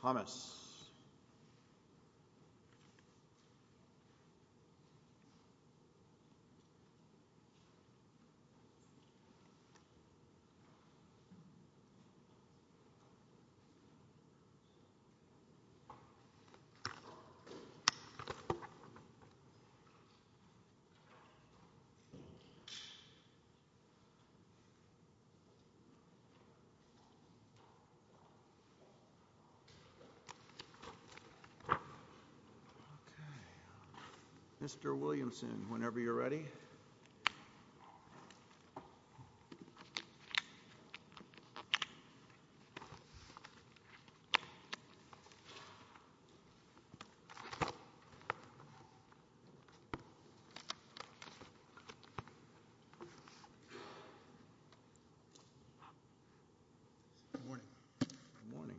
Thomas Okay, Mr. Williamson, whenever you're ready. Good morning, good morning.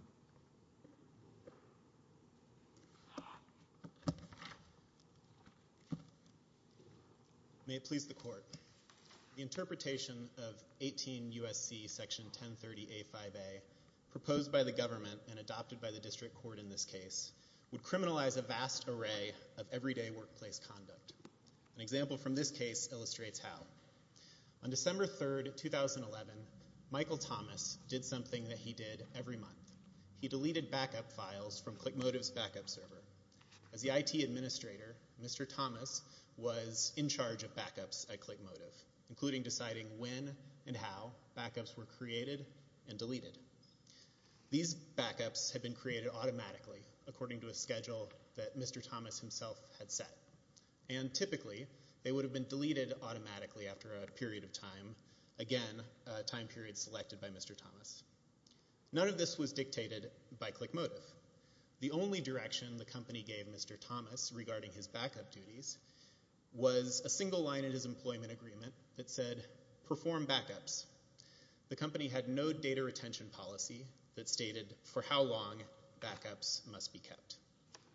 May it please the court, the interpretation of 18 U.S.C. section 1030A5A proposed by the government and adopted by the district court in this case would criminalize a vast array of everyday workplace conduct. An example from this case illustrates how. On December 3rd, 2011, Michael Thomas did something that he did every month. He deleted backup files from ClickMotive's backup server. As the IT administrator, Mr. Thomas was in charge of backups at ClickMotive, including deciding when and how backups were created and deleted. These backups had been created automatically according to a schedule that Mr. Thomas himself had set. And typically, they would have been deleted automatically after a period of time, again, a time period selected by Mr. Thomas. None of this was dictated by ClickMotive. The only direction the company gave Mr. Thomas regarding his backup duties was a single line in his employment agreement that said, perform backups. The company had no data retention policy that stated for how long backups must be kept.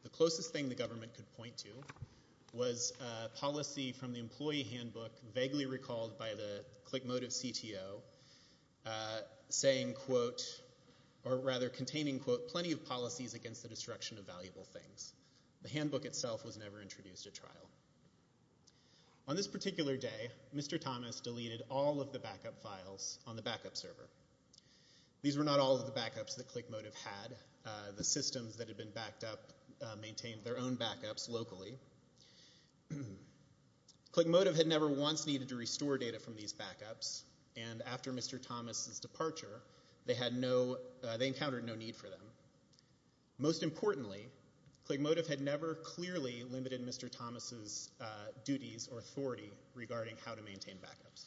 The closest thing the government could point to was policy from the employee handbook vaguely recalled by the ClickMotive CTO, saying, quote, or rather containing, quote, plenty of policies against the destruction of valuable things. The handbook itself was never introduced at trial. On this particular day, Mr. Thomas deleted all of the backup files on the backup server. These were not all of the backups that ClickMotive had. The systems that had been backed up maintained their own backups locally. ClickMotive had never once needed to restore data from these backups, and after Mr. Thomas's departure, they had no, they encountered no need for them. Most importantly, ClickMotive had never clearly limited Mr. Thomas's duties or authority regarding how to maintain backups.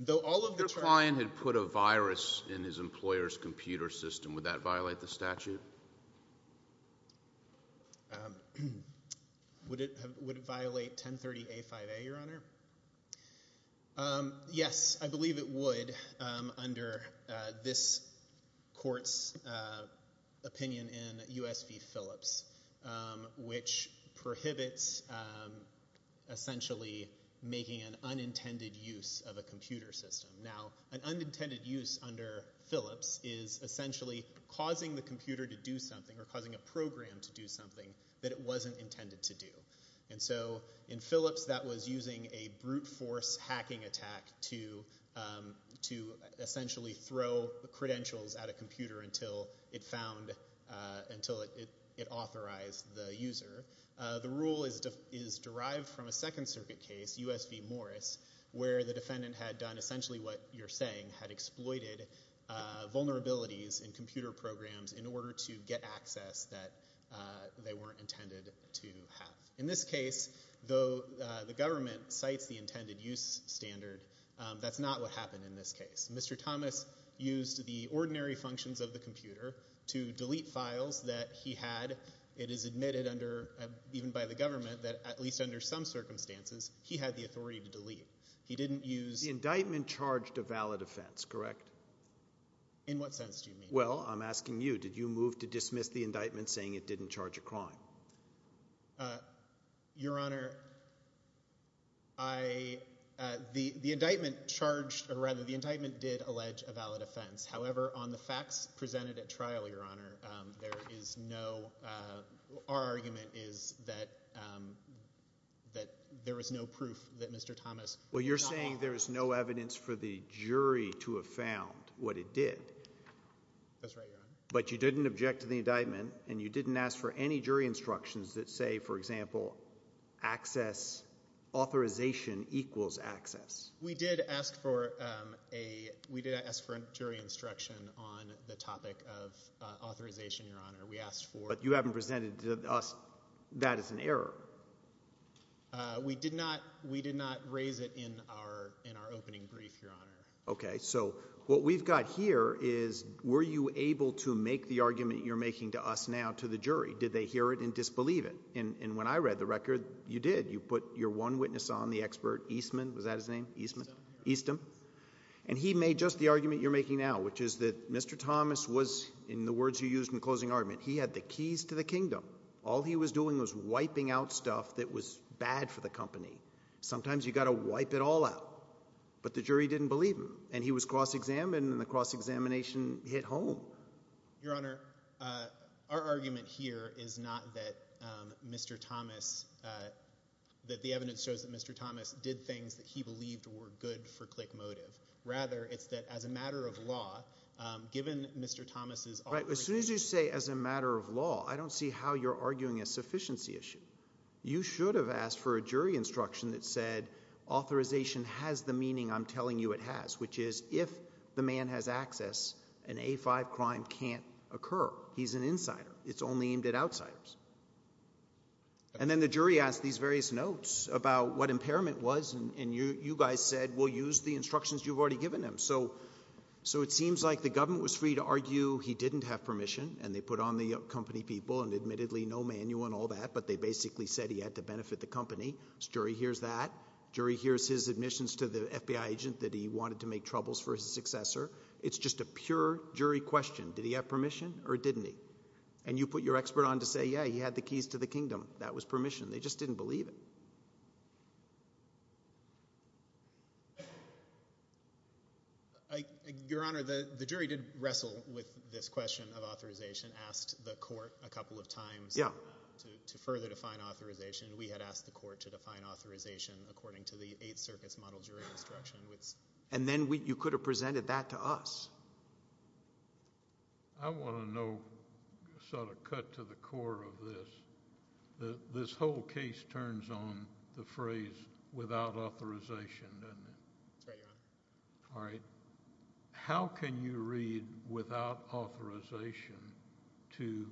Though all of the trial- If your client had put a virus in his employer's computer system, would that violate the statute? Would it violate 1030A-5A, Your Honor? Yes, I believe it would under this court's opinion in U.S. v. Phillips, which prohibits essentially making an unintended use of a computer system. Now, an unintended use under Phillips is essentially causing the computer to do something or causing a program to do something that it wasn't intended to do. So in Phillips, that was using a brute force hacking attack to essentially throw credentials at a computer until it found, until it authorized the user. The rule is derived from a Second Circuit case, U.S. v. Morris, where the defendant had done essentially what you're saying, had exploited vulnerabilities in computer programs in order to get access that they weren't intended to have. In this case, though the government cites the intended use standard, that's not what happened in this case. Mr. Thomas used the ordinary functions of the computer to delete files that he had. It is admitted under, even by the government, that at least under some circumstances, he had the authority to delete. He didn't use... The indictment charged a valid offense, correct? In what sense do you mean? Well, I'm asking you. Did you move to dismiss the indictment saying it didn't charge a crime? Your Honor, I, the indictment charged, or rather the indictment did allege a valid offense. However, on the facts presented at trial, Your Honor, there is no, our argument is that there is no proof that Mr. Thomas... Well, you're saying there is no evidence for the jury to have found what it did. That's right, Your Honor. But you didn't object to the indictment, and you didn't ask for any jury instructions that say, for example, access, authorization equals access. We did ask for a jury instruction on the topic of authorization, Your Honor. We asked for... But you haven't presented to us that as an error. We did not raise it in our opening brief, Your Honor. Okay. So what we've got here is, were you able to make the argument you're making to us now, to the jury? Did they hear it and disbelieve it? And when I read the record, you did. You put your one witness on, the expert Eastman. Was that his name? Eastman. Eastman. And he made just the argument you're making now, which is that Mr. Thomas was, in the closing argument, he had the keys to the kingdom. All he was doing was wiping out stuff that was bad for the company. Sometimes you've got to wipe it all out. But the jury didn't believe him. And he was cross-examined, and the cross-examination hit home. Your Honor, our argument here is not that Mr. Thomas, that the evidence shows that Mr. Thomas did things that he believed were good for click motive. Rather, it's that as a matter of law, given Mr. Thomas's... As soon as you say, as a matter of law, I don't see how you're arguing a sufficiency issue. You should have asked for a jury instruction that said, authorization has the meaning I'm telling you it has, which is if the man has access, an A5 crime can't occur. He's an insider. It's only aimed at outsiders. And then the jury asked these various notes about what impairment was, and you guys said, we'll use the instructions you've already given them. So it seems like the government was free to argue he didn't have permission, and they put on the company people, and admittedly no manual and all that, but they basically said he had to benefit the company. So jury hears that. Jury hears his admissions to the FBI agent that he wanted to make troubles for his successor. It's just a pure jury question. Did he have permission, or didn't he? And you put your expert on to say, yeah, he had the keys to the kingdom. That was permission. They just didn't believe it. Your Honor, the jury did wrestle with this question of authorization, asked the court a couple of times to further define authorization. We had asked the court to define authorization according to the Eighth Circuit's model jury instruction. And then you could have presented that to us. I want to know, sort of cut to the core of this, this whole case turns on the phrase without authorization, doesn't it? That's right, Your Honor. All right. How can you read without authorization to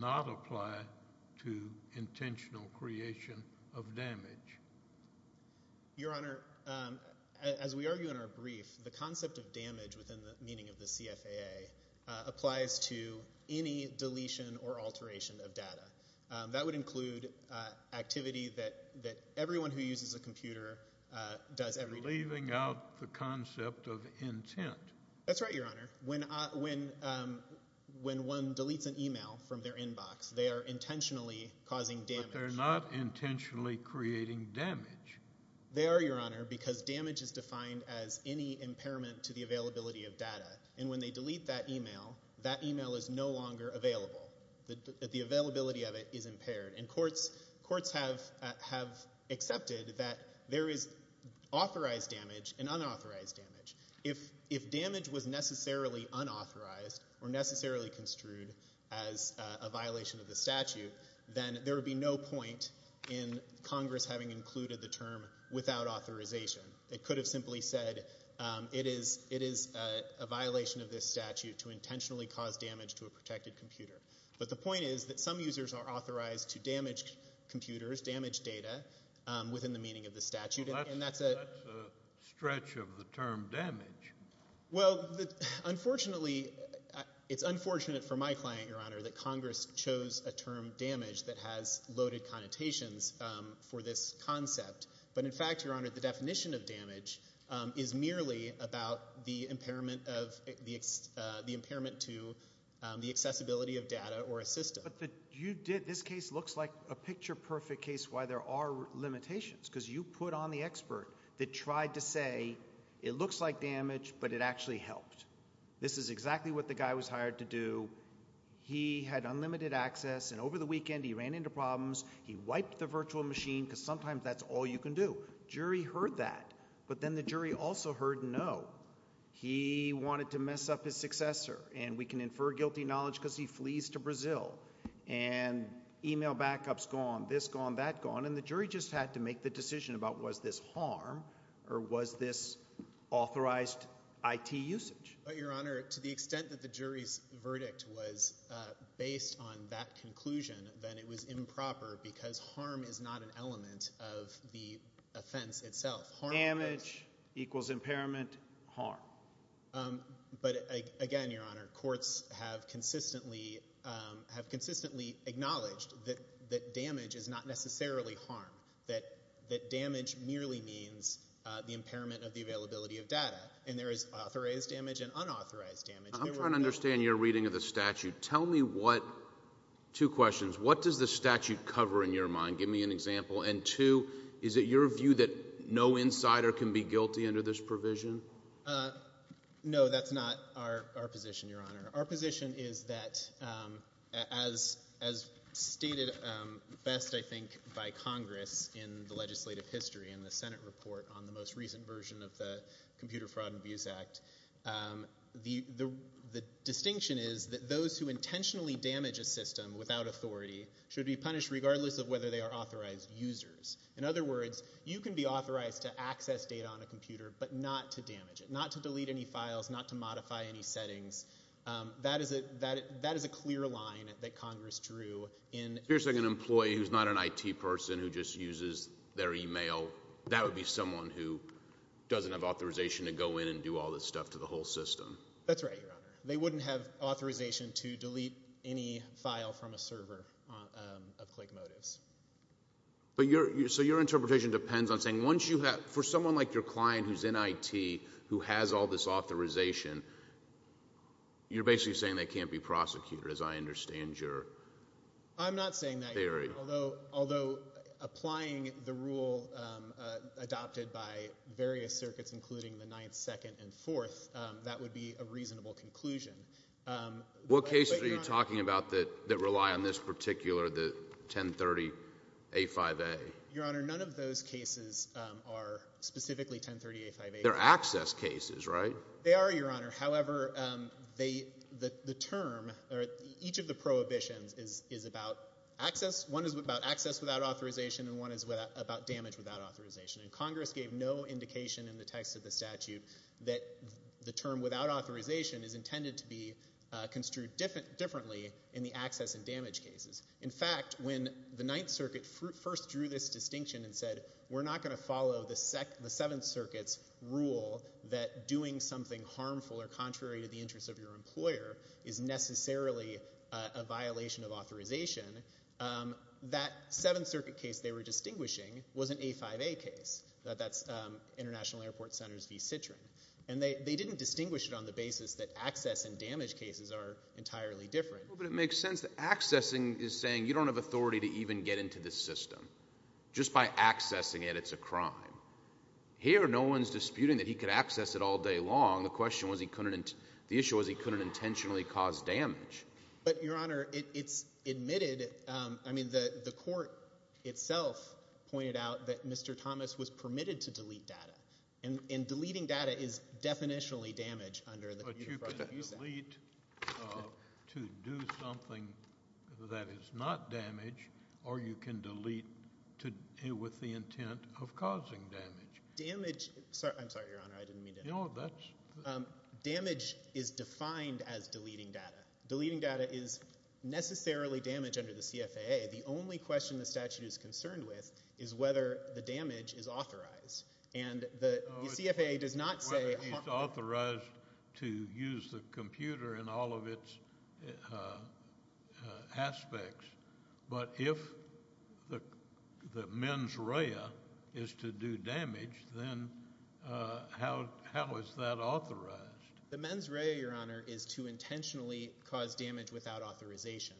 not apply to intentional creation of damage? Your Honor, as we argue in our brief, the concept of damage within the meaning of the CFAA applies to any deletion or alteration of data. That would include activity that everyone who uses a computer does every day. You're leaving out the concept of intent. That's right, Your Honor. When one deletes an email from their inbox, they are intentionally causing damage. But they're not intentionally creating damage. They are, Your Honor, because damage is defined as any impairment to the availability of data. And when they delete that email, that email is no longer available. The availability of it is impaired. And courts have accepted that there is authorized damage and unauthorized damage. If damage was necessarily unauthorized or necessarily construed as a violation of the statute, then there would be no point in Congress having included the term without authorization. It could have simply said it is a violation of this statute to intentionally cause damage to a protected computer. But the point is that some users are authorized to damage computers, damage data, within the meaning of the statute. That's a stretch of the term damage. Well, unfortunately, it's unfortunate for my client, Your Honor, that Congress chose a term damage that has loaded connotations for this concept. But, in fact, Your Honor, the definition of damage is merely about the impairment to the accessibility of data or a system. But this case looks like a picture-perfect case why there are limitations because you put on the expert that tried to say it looks like damage but it actually helped. This is exactly what the guy was hired to do. He had unlimited access, and over the weekend he ran into problems. He wiped the virtual machine because sometimes that's all you can do. Jury heard that. But then the jury also heard no. He wanted to mess up his successor, and we can infer guilty knowledge because he flees to Brazil. And email backups gone, this gone, that gone, and the jury just had to make the decision about was this harm or was this authorized IT usage. But, Your Honor, to the extent that the jury's verdict was based on that conclusion, then it was improper because harm is not an element of the offense itself. Damage equals impairment, harm. But, again, Your Honor, courts have consistently acknowledged that damage is not necessarily harm, that damage merely means the impairment of the availability of data. And there is authorized damage and unauthorized damage. I'm trying to understand your reading of the statute. Tell me what, two questions, what does the statute cover in your mind? Give me an example. And, two, is it your view that no insider can be guilty under this provision? No, that's not our position, Your Honor. Our position is that as stated best, I think, by Congress in the legislative history in the Senate report on the most recent version of the Computer Fraud and Abuse Act, the distinction is that those who intentionally damage a system without authority should be punished regardless of whether they are authorized users. In other words, you can be authorized to access data on a computer, but not to damage it, not to delete any files, not to modify any settings. That is a clear line that Congress drew. Here's, like, an employee who's not an IT person who just uses their e-mail. That would be someone who doesn't have authorization to go in and do all this stuff to the whole system. That's right, Your Honor. They wouldn't have authorization to delete any file from a server of ClickMotives. So your interpretation depends on saying once you have, for someone like your client who's in IT, who has all this authorization, you're basically saying they can't be prosecuted, as I understand your theory. I'm not saying that, Your Honor. Although applying the rule adopted by various circuits, including the Ninth, Second, and Fourth, that would be a reasonable conclusion. What cases are you talking about that rely on this particular, the 1030A5A? Your Honor, none of those cases are specifically 1030A5A. They're access cases, right? They are, Your Honor. However, the term or each of the prohibitions is about access. One is about access without authorization, and one is about damage without authorization. And Congress gave no indication in the text of the statute that the term without authorization is intended to be construed differently in the access and damage cases. In fact, when the Ninth Circuit first drew this distinction and said, we're not going to follow the Seventh Circuit's rule that doing something harmful or contrary to the interests of your employer is necessarily a violation of authorization, that Seventh Circuit case they were distinguishing was an A5A case. That's International Airport Centers v. Citroen. And they didn't distinguish it on the basis that access and damage cases are entirely different. But it makes sense that accessing is saying you don't have authority to even get into this system. Just by accessing it, it's a crime. Here, no one's disputing that he could access it all day long. The issue was he couldn't intentionally cause damage. But, Your Honor, it's admitted. I mean, the court itself pointed out that Mr. Thomas was permitted to delete data, and deleting data is definitionally damage under the view that you said. But you can delete to do something that is not damage, or you can delete with the intent of causing damage. Damage – I'm sorry, Your Honor, I didn't mean to – No, that's – Damage is defined as deleting data. Deleting data is necessarily damage under the CFAA. The only question the statute is concerned with is whether the damage is authorized. And the CFAA does not say – Whether it's authorized to use the computer in all of its aspects. But if the mens rea is to do damage, then how is that authorized? The mens rea, Your Honor, is to intentionally cause damage without authorization.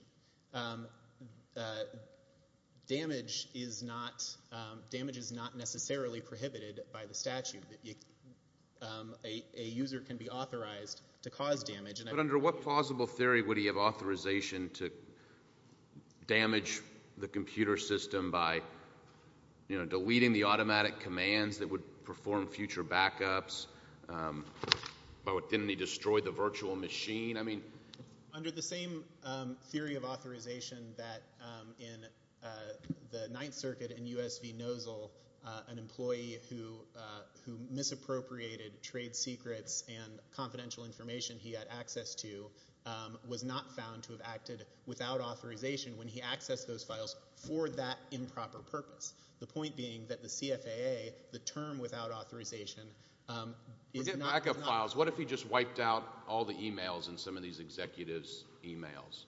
Damage is not necessarily prohibited by the statute. A user can be authorized to cause damage. But under what plausible theory would he have authorization to damage the computer system by deleting the automatic commands that would perform future backups? Didn't he destroy the virtual machine? Under the same theory of authorization that in the Ninth Circuit in U.S. v. Nozzle, an employee who misappropriated trade secrets and confidential information he had access to was not found to have acted without authorization when he accessed those files for that improper purpose. The point being that the CFAA, the term without authorization, is not – What if he just wiped out all the emails in some of these executives' emails,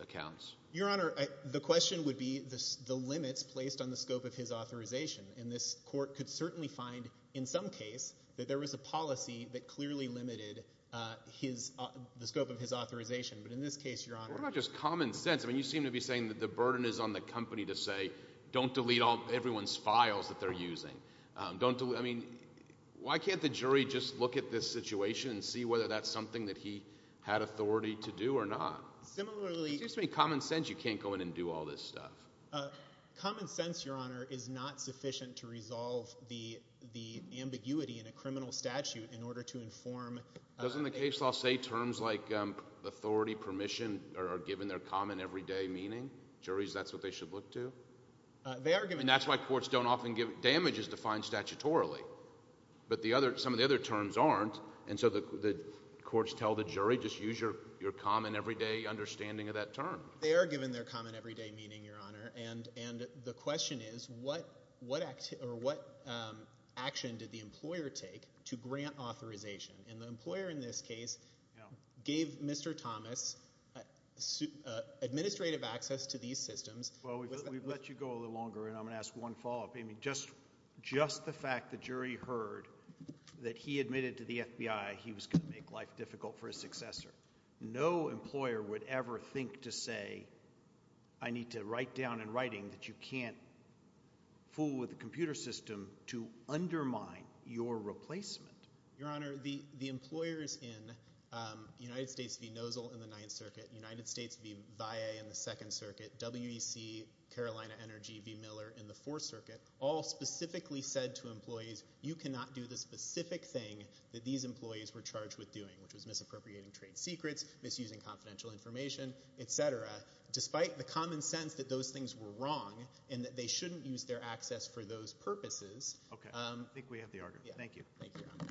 accounts? Your Honor, the question would be the limits placed on the scope of his authorization. And this court could certainly find in some case that there was a policy that clearly limited the scope of his authorization. But in this case, Your Honor – What about just common sense? I mean, you seem to be saying that the burden is on the company to say, don't delete everyone's files that they're using. I mean, why can't the jury just look at this situation and see whether that's something that he had authority to do or not? Similarly – It seems to me common sense you can't go in and do all this stuff. Common sense, Your Honor, is not sufficient to resolve the ambiguity in a criminal statute in order to inform – Doesn't the case law say terms like authority, permission are given their common everyday meaning? Juries, that's what they should look to? They are given – And that's why courts don't often give damages defined statutorily. But some of the other terms aren't. And so the courts tell the jury just use your common everyday understanding of that term. They are given their common everyday meaning, Your Honor. And the question is what action did the employer take to grant authorization? And the employer in this case gave Mr. Thomas administrative access to these systems. Well, we've let you go a little longer, and I'm going to ask one follow-up. Just the fact the jury heard that he admitted to the FBI he was going to make life difficult for his successor. No employer would ever think to say I need to write down in writing that you can't fool with the computer system to undermine your replacement. Your Honor, the employers in United States v. Nozzle in the Ninth Circuit, United States v. Valle in the Second Circuit, WEC, Carolina Energy v. Miller in the Fourth Circuit, all specifically said to employees, you cannot do the specific thing that these employees were charged with doing, which was misappropriating trade secrets, misusing confidential information, et cetera, despite the common sense that those things were wrong and that they shouldn't use their access for those purposes. Okay. I think we have the argument. Thank you. Thank you, Your Honor.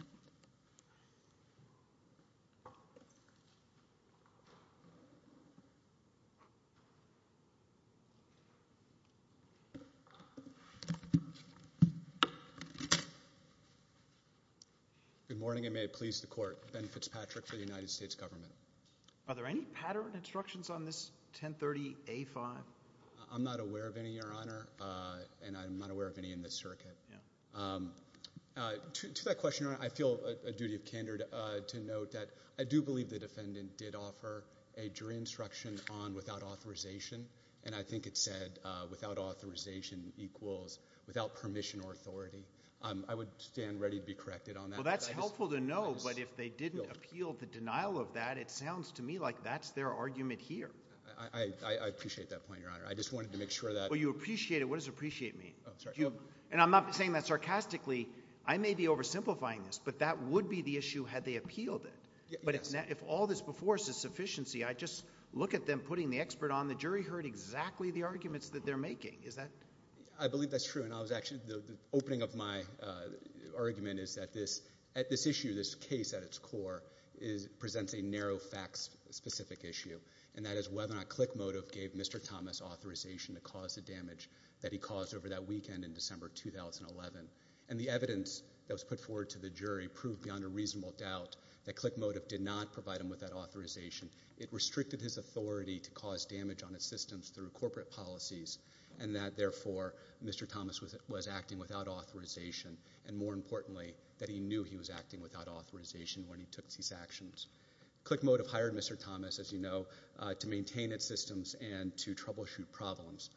Good morning, and may it please the Court. Ben Fitzpatrick for the United States Government. Are there any pattern instructions on this 1030A5? I'm not aware of any, Your Honor, and I'm not aware of any in this circuit. To that question, Your Honor, I feel a duty of candor to note that I do believe the defendant did offer a jury instruction on without authorization, and I think it said without authorization equals without permission or authority. I would stand ready to be corrected on that. Well, that's helpful to know, but if they didn't appeal the denial of that, it sounds to me like that's their argument here. I appreciate that point, Your Honor. I just wanted to make sure that – Well, you appreciate it. What does appreciate mean? Oh, sorry. And I'm not saying that sarcastically. I may be oversimplifying this, but that would be the issue had they appealed it. Yes. But if all this before us is sufficiency, I just look at them putting the expert on. The jury heard exactly the arguments that they're making. Is that – I believe that's true, and I was actually – the opening of my argument is that this issue, this case at its core, presents a narrow facts-specific issue, and that is whether or not Click Motive gave Mr. Thomas authorization to cause the damage that he caused over that weekend in December 2011. And the evidence that was put forward to the jury proved beyond a reasonable doubt that Click Motive did not provide him with that authorization. It restricted his authority to cause damage on its systems through corporate policies, and that, therefore, Mr. Thomas was acting without authorization, and more importantly, that he knew he was acting without authorization when he took these actions. Click Motive hired Mr. Thomas, as you know, to maintain its systems and to troubleshoot problems,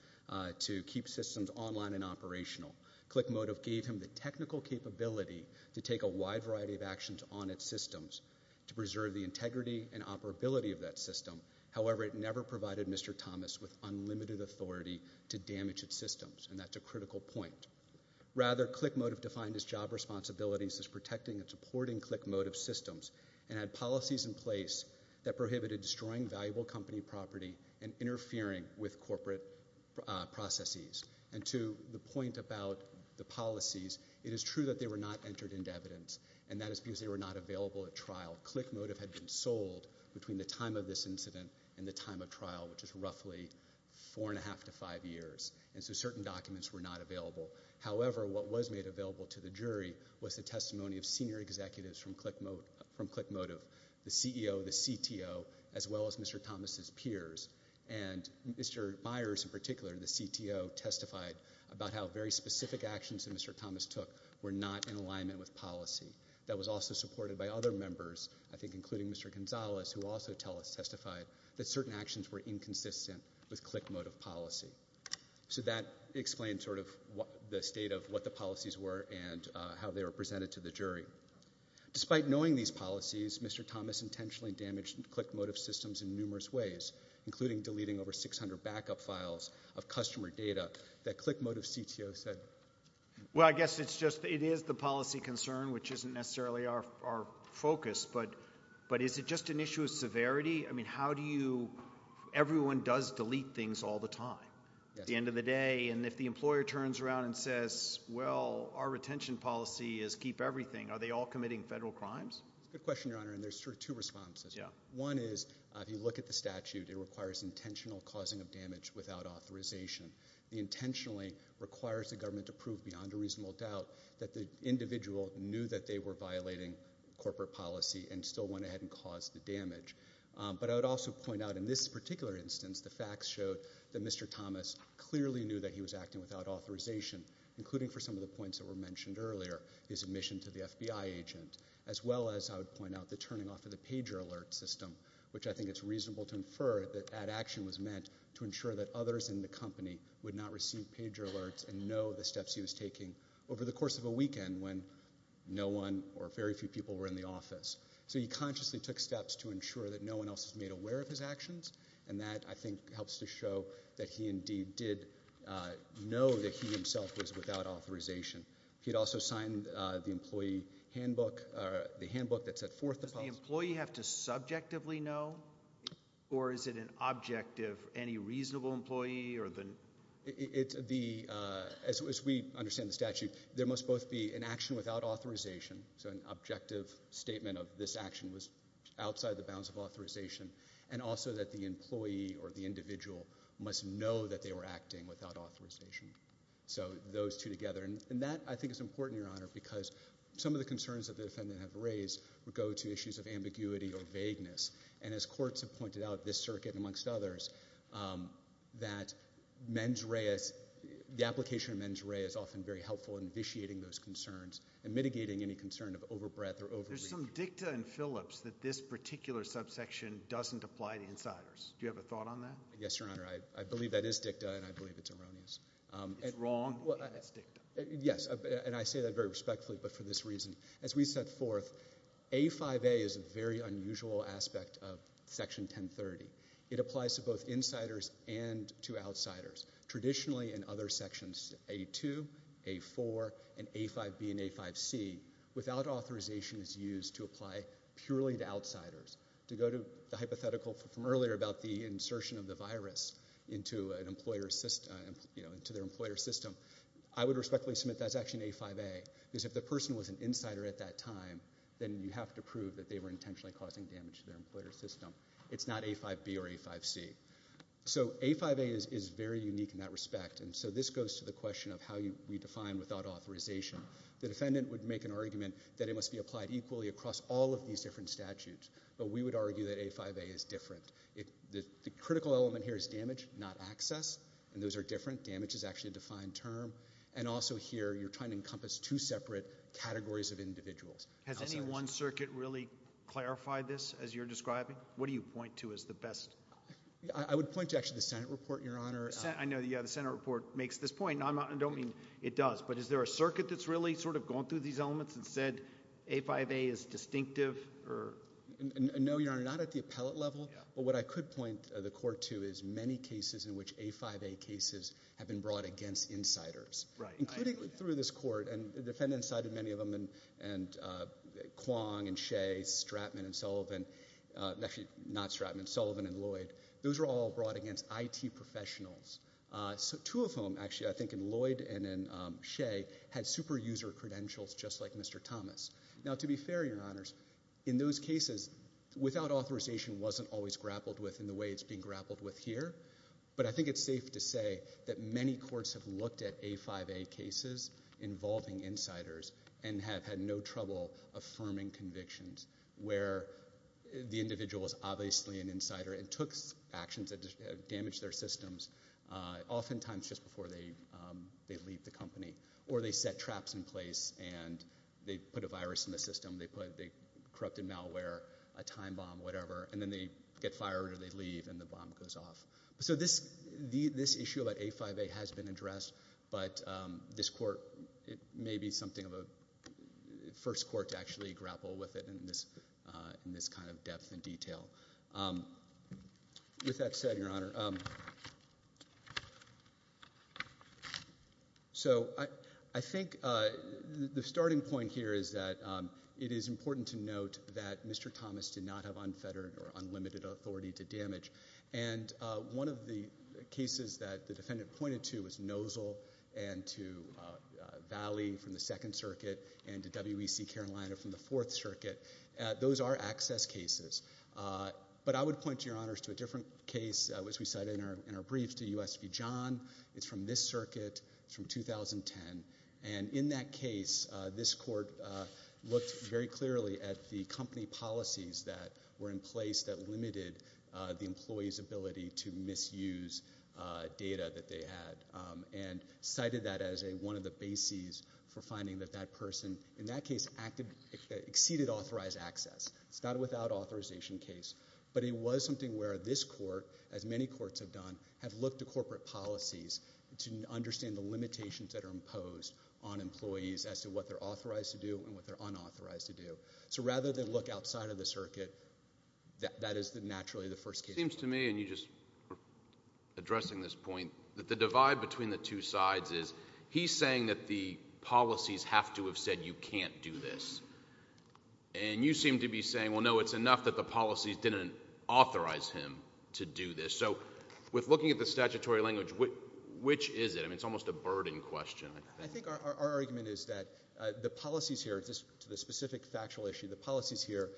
to keep systems online and operational. Click Motive gave him the technical capability to take a wide variety of actions on its systems to preserve the integrity and operability of that system. However, it never provided Mr. Thomas with unlimited authority to damage its systems, and that's a critical point. Rather, Click Motive defined its job responsibilities as protecting and supporting Click Motive's systems and had policies in place that prohibited destroying valuable company property and interfering with corporate processes. And to the point about the policies, it is true that they were not entered into evidence, and that is because they were not available at trial. Click Motive had been sold between the time of this incident and the time of trial, which is roughly four and a half to five years. And so certain documents were not available. However, what was made available to the jury was the testimony of senior executives from Click Motive, the CEO, the CTO, as well as Mr. Thomas's peers. And Mr. Myers, in particular, the CTO, testified about how very specific actions that Mr. Thomas took were not in alignment with policy. That was also supported by other members, I think including Mr. Gonzalez, who also testified that certain actions were inconsistent with Click Motive policy. So that explains sort of the state of what the policies were and how they were presented to the jury. Despite knowing these policies, Mr. Thomas intentionally damaged Click Motive's systems in numerous ways, including deleting over 600 backup files of customer data that Click Motive's CTO said. Well, I guess it's just it is the policy concern, which isn't necessarily our focus, but is it just an issue of severity? I mean, how do you – everyone does delete things all the time at the end of the day. And if the employer turns around and says, well, our retention policy is keep everything, are they all committing federal crimes? That's a good question, Your Honor, and there's sort of two responses. One is if you look at the statute, it requires intentional causing of damage without authorization. It intentionally requires the government to prove beyond a reasonable doubt that the individual knew that they were violating corporate policy and still went ahead and caused the damage. But I would also point out in this particular instance, the facts showed that Mr. Thomas clearly knew that he was acting without authorization, including for some of the points that were mentioned earlier, his admission to the FBI agent, as well as I would point out the turning off of the pager alert system, which I think it's reasonable to infer that that action was meant to ensure that others in the company would not receive pager alerts and know the steps he was taking over the course of a weekend when no one or very few people were in the office. So he consciously took steps to ensure that no one else is made aware of his actions, and that I think helps to show that he indeed did know that he himself was without authorization. He had also signed the employee handbook – the handbook that set forth the policy. Does the employee have to subjectively know, or is it an objective, any reasonable employee? As we understand the statute, there must both be an action without authorization, so an objective statement of this action was outside the bounds of authorization, and also that the employee or the individual must know that they were acting without authorization. So those two together, and that I think is important, Your Honor, because some of the concerns that the defendant have raised would go to issues of ambiguity or vagueness, and as courts have pointed out at this circuit and amongst others, that the application of mens rea is often very helpful in vitiating those concerns and mitigating any concern of overbreadth or overreach. There's some dicta in Phillips that this particular subsection doesn't apply to insiders. Do you have a thought on that? Yes, Your Honor. I believe that is dicta, and I believe it's erroneous. It's wrong, and it's dicta. Yes, and I say that very respectfully, but for this reason. As we set forth, A5A is a very unusual aspect of Section 1030. It applies to both insiders and to outsiders. Traditionally, in other sections, A2, A4, and A5B and A5C, without authorization is used to apply purely to outsiders. To go to the hypothetical from earlier about the insertion of the virus into their employer system, I would respectfully submit that's actually in A5A, because if the person was an insider at that time, then you have to prove that they were intentionally causing damage to their employer system. It's not A5B or A5C. So A5A is very unique in that respect, and so this goes to the question of how we define without authorization. The defendant would make an argument that it must be applied equally across all of these different statutes, but we would argue that A5A is different. The critical element here is damage, not access, and those are different. Damage is actually a defined term, and also here you're trying to encompass two separate categories of individuals. Has any one circuit really clarified this as you're describing? What do you point to as the best? I would point to actually the Senate report, Your Honor. I know the Senate report makes this point, and I don't mean it does, but is there a circuit that's really sort of gone through these elements and said A5A is distinctive? No, Your Honor, not at the appellate level, but what I could point the court to is many cases in which A5A cases have been brought against insiders, including through this court, and the defendant cited many of them, and Kwong and Shea, Stratman and Sullivan, actually not Stratman, Sullivan and Lloyd. Those were all brought against IT professionals. Two of them, actually, I think in Lloyd and in Shea, had super user credentials just like Mr. Thomas. Now, to be fair, Your Honors, in those cases, without authorization wasn't always grappled with in the way it's being grappled with here, but I think it's safe to say that many courts have looked at A5A cases involving insiders and have had no trouble affirming convictions where the individual is obviously an insider and took actions that damaged their systems, oftentimes just before they leave the company, or they set traps in place and they put a virus in the system, they corrupted malware, a time bomb, whatever, and then they get fired or they leave and the bomb goes off. So this issue about A5A has been addressed, but this court may be something of a first court to actually grapple with it in this kind of depth and detail. With that said, Your Honor, so I think the starting point here is that it is important to note that Mr. Thomas did not have unfettered or unlimited authority to damage, and one of the cases that the defendant pointed to was Nozell and to Valley from the Second Circuit and to WEC Carolina from the Fourth Circuit. Those are access cases. But I would point, Your Honors, to a different case, which we cited in our brief, to U.S. v. John. It's from this circuit. It's from 2010. And in that case, this court looked very clearly at the company policies that were in place that limited the employee's ability to misuse data that they had and cited that as one of the bases for finding that that person, in that case, exceeded authorized access. It's not a without authorization case, but it was something where this court, as many courts have done, have looked at corporate policies to understand the limitations that are imposed on employees as to what they're authorized to do and what they're unauthorized to do. So rather than look outside of the circuit, that is naturally the first case. It seems to me, and you just were addressing this point, that the divide between the two sides is he's saying that the policies have to have said you can't do this, and you seem to be saying, well, no, it's enough that the policies didn't authorize him to do this. So with looking at the statutory language, which is it? I mean, it's almost a burden question. I think our argument is that the policies here, to the specific factual issue, the policies here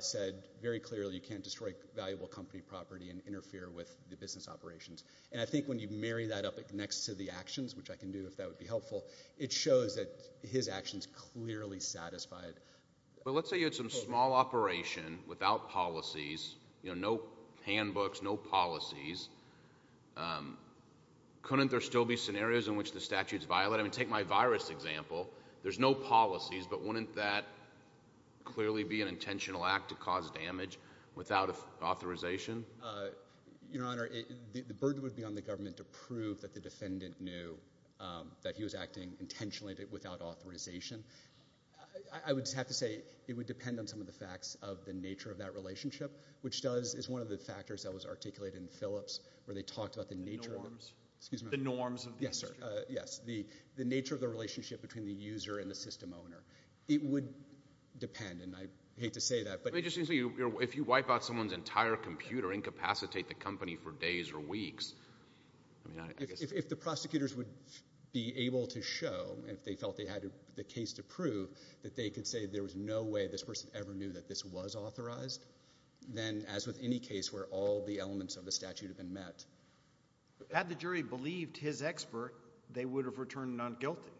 said very clearly you can't destroy valuable company property and interfere with the business operations. And I think when you marry that up next to the actions, which I can do if that would be helpful, it shows that his actions clearly satisfied. But let's say you had some small operation without policies, no handbooks, no policies. Couldn't there still be scenarios in which the statute's violated? I mean, take my virus example. There's no policies, but wouldn't that clearly be an intentional act to cause damage without authorization? Your Honor, the burden would be on the government to prove that the defendant knew that he was acting intentionally without authorization. I would have to say it would depend on some of the facts of the nature of that relationship, which is one of the factors that was articulated in Phillips where they talked about the nature of it. The norms. Excuse me? The norms of the institution. Yes, sir. Yes. The nature of the relationship between the user and the system owner. It would depend, and I hate to say that. But it just seems to me if you wipe out someone's entire computer, incapacitate the company for days or weeks, I mean, I guess. If the prosecutors would be able to show, if they felt they had the case to prove, that they could say there was no way this person ever knew that this was authorized, then as with any case where all the elements of the statute have been met. Had the jury believed his expert, they would have returned non-guilty.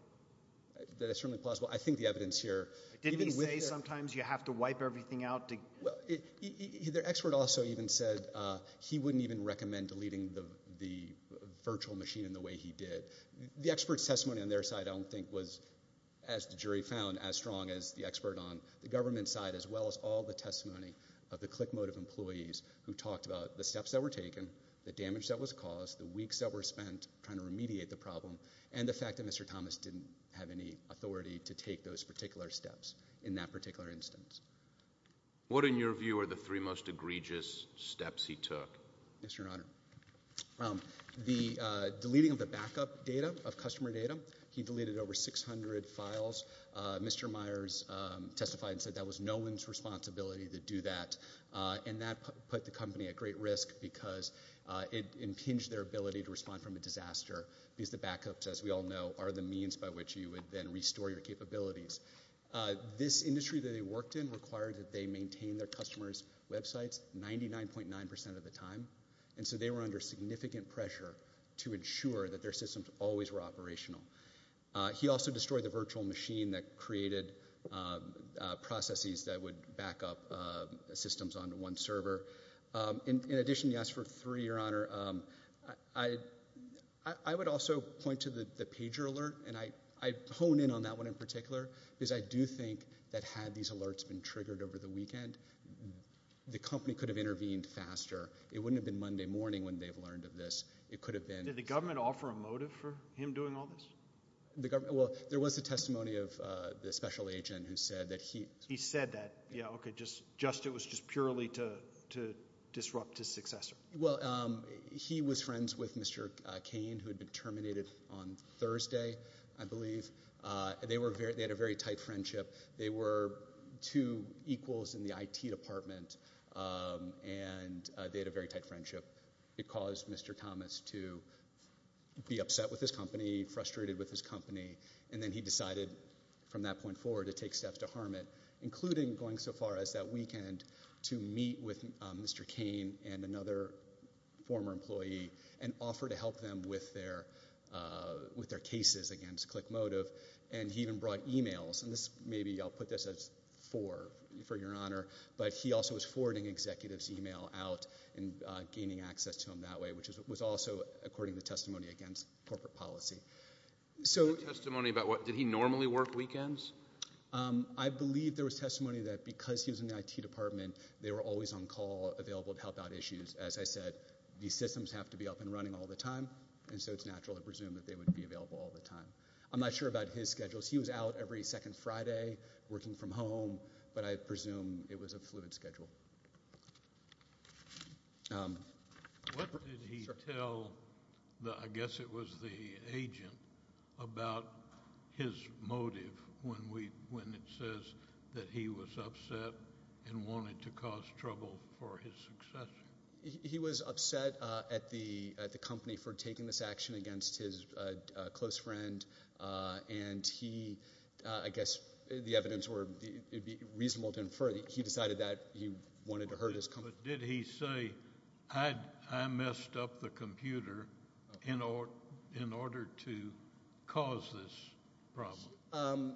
That is certainly plausible. I think the evidence here. Didn't he say sometimes you have to wipe everything out? Well, the expert also even said he wouldn't even recommend deleting the virtual machine in the way he did. The expert's testimony on their side I don't think was, as the jury found, as strong as the expert on the government side as well as all the testimony of the ClickMotive employees who talked about the steps that were taken, the damage that was caused, the weeks that were spent trying to remediate the problem, and the fact that Mr. Thomas didn't have any authority to take those particular steps in that particular instance. What, in your view, are the three most egregious steps he took? Yes, Your Honor. The deleting of the backup data, of customer data. He deleted over 600 files. Mr. Myers testified and said that was no one's responsibility to do that. And that put the company at great risk because it impinged their ability to respond from a disaster because the backups, as we all know, are the means by which you would then restore your capabilities. This industry that he worked in required that they maintain their customers' websites 99.9% of the time, and so they were under significant pressure to ensure that their systems always were operational. He also destroyed the virtual machine that created processes that would backup systems onto one server. In addition, yes, for three, Your Honor, I would also point to the pager alert, and I hone in on that one in particular because I do think that had these alerts been triggered over the weekend, the company could have intervened faster. It wouldn't have been Monday morning when they've learned of this. It could have been. Did the government offer a motive for him doing all this? Well, there was a testimony of the special agent who said that he. He said that. Yeah, okay, just it was just purely to disrupt his successor. Well, he was friends with Mr. Cain who had been terminated on Thursday, I believe. They had a very tight friendship. They were two equals in the IT department, and they had a very tight friendship. It caused Mr. Thomas to be upset with his company, frustrated with his company, and then he decided from that point forward to take steps to harm it, including going so far as that weekend to meet with Mr. Cain and another former employee and offer to help them with their cases against ClickMotive. And he even brought e-mails, and maybe I'll put this as for, for Your Honor, but he also was forwarding executives' e-mail out and gaining access to them that way, which was also according to testimony against corporate policy. So testimony about what? Did he normally work weekends? I believe there was testimony that because he was in the IT department, they were always on call available to help out issues. As I said, these systems have to be up and running all the time, and so it's natural to presume that they would be available all the time. I'm not sure about his schedules. He was out every second Friday working from home, but I presume it was a fluid schedule. What did he tell, I guess it was the agent, about his motive when it says that he was upset and wanted to cause trouble for his successor? He was upset at the company for taking this action against his close friend, and he, I guess the evidence would be reasonable to infer that he decided that he wanted to hurt his company. But did he say, I messed up the computer in order to cause this problem?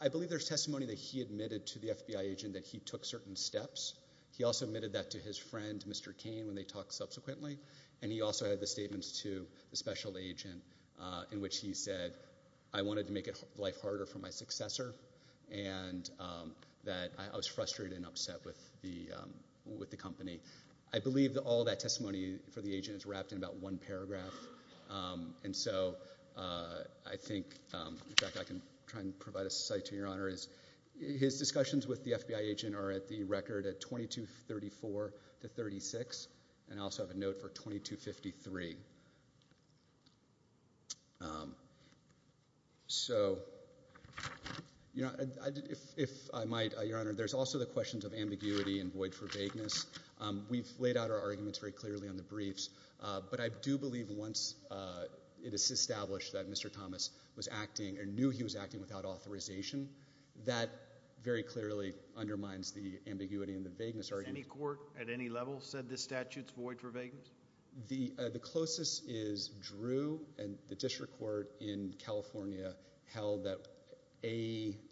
I believe there's testimony that he admitted to the FBI agent that he took certain steps. He also admitted that to his friend, Mr. Cain, when they talked subsequently, and he also had the statements to the special agent in which he said, I wanted to make life harder for my successor and that I was frustrated and upset with the company. I believe all that testimony for the agent is wrapped in about one paragraph, and so I think, in fact, I can try and provide a cite to Your Honor. His discussions with the FBI agent are at the record at 2234 to 36, and I also have a note for 2253. So if I might, Your Honor, there's also the questions of ambiguity and void for vagueness. We've laid out our arguments very clearly on the briefs, but I do believe once it is established that Mr. Thomas was acting or knew he was acting without authorization, that very clearly undermines the ambiguity and the vagueness argument. Has any court at any level said this statute's void for vagueness? The closest is Drew, and the district court in California held that A2C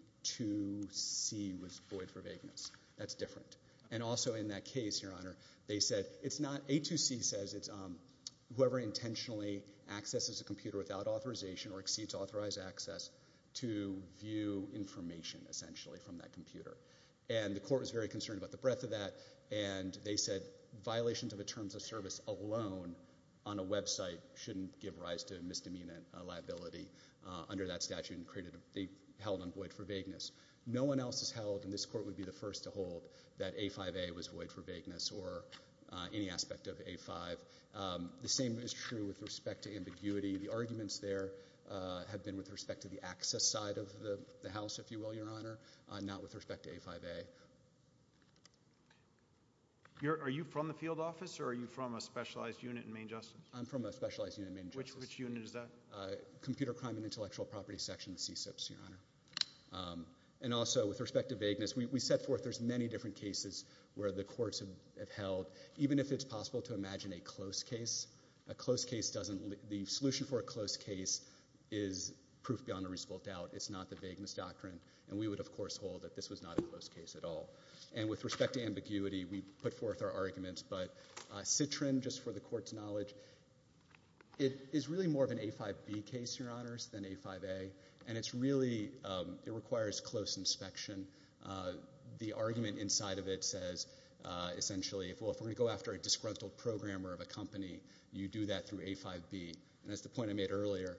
was void for vagueness. That's different. And also in that case, Your Honor, they said it's not – A2C says it's whoever intentionally accesses a computer without authorization And the court was very concerned about the breadth of that, and they said violations of the terms of service alone on a website shouldn't give rise to a misdemeanor liability under that statute, and they held on void for vagueness. No one else has held, and this court would be the first to hold, that A5A was void for vagueness or any aspect of A5. The same is true with respect to ambiguity. The arguments there have been with respect to the access side of the House, if you will, Your Honor, not with respect to A5A. Are you from the field office, or are you from a specialized unit in Maine Justice? I'm from a specialized unit in Maine Justice. Which unit is that? Computer Crime and Intellectual Property Section, CSIPs, Your Honor. And also with respect to vagueness, we set forth – there's many different cases where the courts have held, even if it's possible to imagine a close case, a close case doesn't – the solution for a close case is proof beyond a reasonable doubt. It's not the vagueness doctrine. And we would, of course, hold that this was not a close case at all. And with respect to ambiguity, we put forth our arguments. But Citrin, just for the Court's knowledge, it is really more of an A5B case, Your Honors, than A5A. And it's really – it requires close inspection. The argument inside of it says, essentially, if we're going to go after a disgruntled programmer of a company, you do that through A5B. And that's the point I made earlier.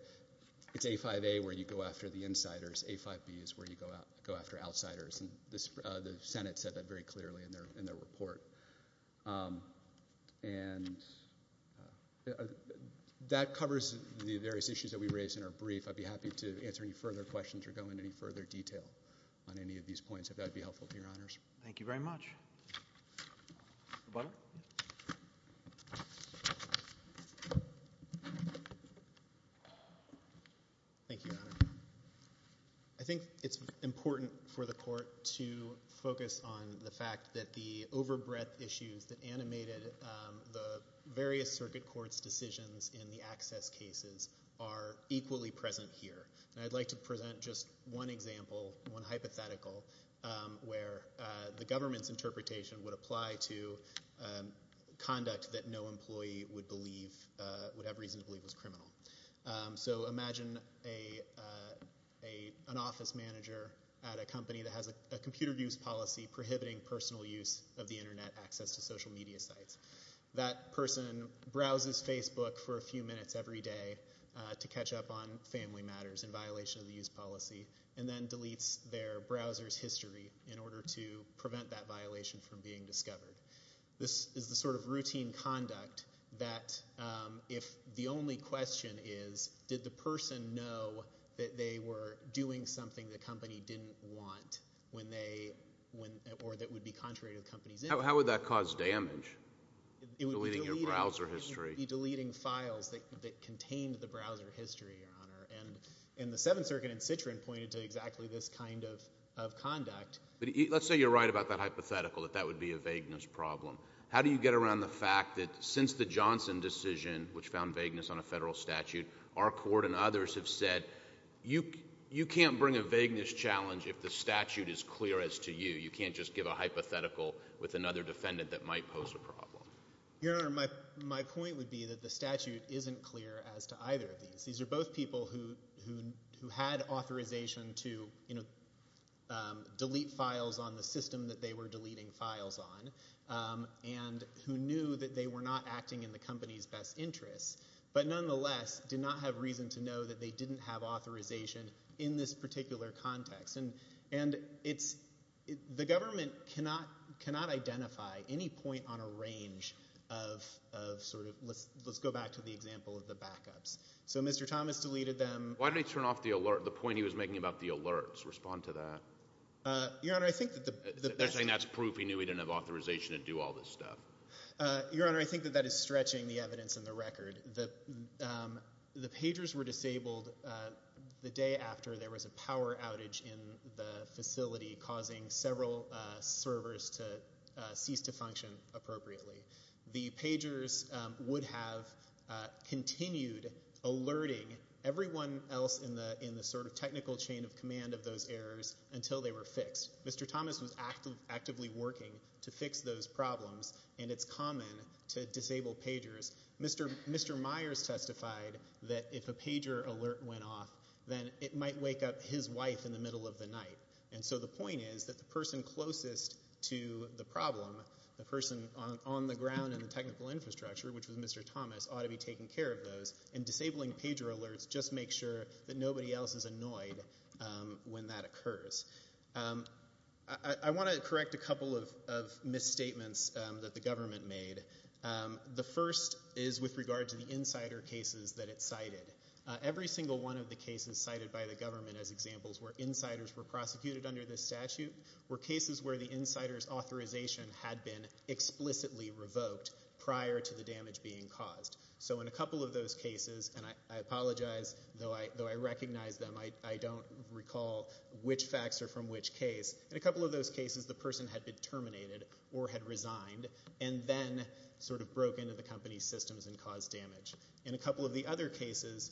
It's A5A where you go after the insiders. A5B is where you go after outsiders. And the Senate said that very clearly in their report. And that covers the various issues that we raised in our brief. I'd be happy to answer any further questions or go into any further detail on any of these points, if that would be helpful to Your Honors. Thank you very much. Mr. Butler? Thank you, Your Honor. I think it's important for the Court to focus on the fact that the overbreadth issues that animated the various circuit courts' decisions in the access cases are equally present here. And I'd like to present just one example, one hypothetical, where the government's interpretation would apply to conduct that no employee would believe – would have reason to believe was criminal. So imagine an office manager at a company that has a computer use policy prohibiting personal use of the Internet access to social media sites. That person browses Facebook for a few minutes every day to catch up on family matters in violation of the use policy and then deletes their browser's history in order to prevent that violation from being discovered. This is the sort of routine conduct that if the only question is, did the person know that they were doing something the company didn't want when they – or that would be contrary to the company's interest. How would that cause damage, deleting your browser history? And the Seventh Circuit in Citroen pointed to exactly this kind of conduct. But let's say you're right about that hypothetical, that that would be a vagueness problem. How do you get around the fact that since the Johnson decision, which found vagueness on a federal statute, our court and others have said, you can't bring a vagueness challenge if the statute is clear as to you. You can't just give a hypothetical with another defendant that might pose a problem. Your Honor, my point would be that the statute isn't clear as to either of these. These are both people who had authorization to delete files on the system that they were deleting files on and who knew that they were not acting in the company's best interest but nonetheless did not have reason to know that they didn't have authorization in this particular context. And it's – the government cannot identify any point on a range of sort of – let's go back to the example of the backups. So Mr. Thomas deleted them. Why did he turn off the alert, the point he was making about the alerts? Respond to that. Your Honor, I think that the – They're saying that's proof he knew he didn't have authorization to do all this stuff. Your Honor, I think that that is stretching the evidence in the record. The pagers were disabled the day after there was a power outage in the facility causing several servers to cease to function appropriately. The pagers would have continued alerting everyone else in the sort of technical chain of command of those errors until they were fixed. Mr. Thomas was actively working to fix those problems, and it's common to disable pagers. Mr. Myers testified that if a pager alert went off, then it might wake up his wife in the middle of the night. And so the point is that the person closest to the problem, the person on the ground in the technical infrastructure, which was Mr. Thomas, ought to be taking care of those, and disabling pager alerts just makes sure that nobody else is annoyed when that occurs. I want to correct a couple of misstatements that the government made. The first is with regard to the insider cases that it cited. Every single one of the cases cited by the government as examples where insiders were prosecuted under this statute were cases where the insider's authorization had been explicitly revoked prior to the damage being caused. So in a couple of those cases, and I apologize, though I recognize them, I don't recall which facts are from which case. In a couple of those cases, the person had been terminated or had resigned and then sort of broke into the company's systems and caused damage. In a couple of the other cases,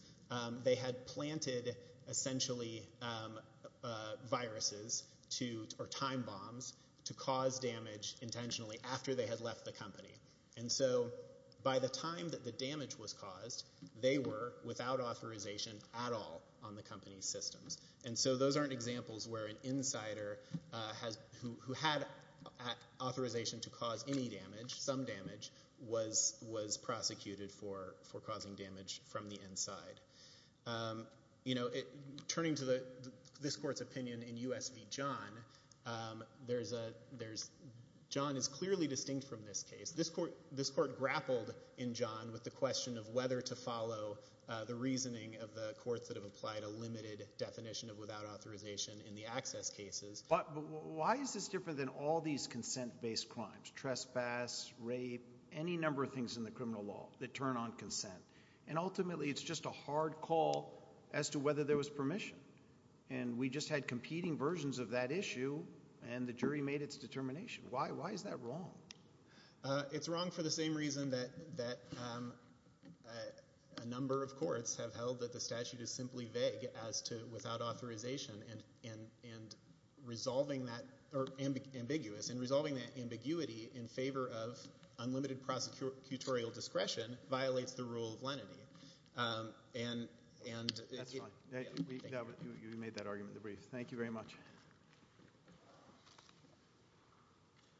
they had planted essentially viruses or time bombs to cause damage intentionally after they had left the company. And so by the time that the damage was caused, they were without authorization at all on the company's systems. And so those aren't examples where an insider who had authorization to cause any damage, some damage, was prosecuted for causing damage from the inside. Turning to this court's opinion in U.S. v. John, John is clearly distinct from this case. This court grappled in John with the question of whether to follow the reasoning of the courts that have applied a limited definition of without authorization in the access cases. But why is this different than all these consent-based crimes, trespass, rape, any number of things in the criminal law that turn on consent? And ultimately it's just a hard call as to whether there was permission. And we just had competing versions of that issue, and the jury made its determination. Why is that wrong? It's wrong for the same reason that a number of courts have held that the statute is simply vague as to without authorization and resolving that ambiguous and resolving that ambiguity in favor of unlimited prosecutorial discretion violates the rule of lenity. That's fine. We made that argument in the brief. Thank you very much.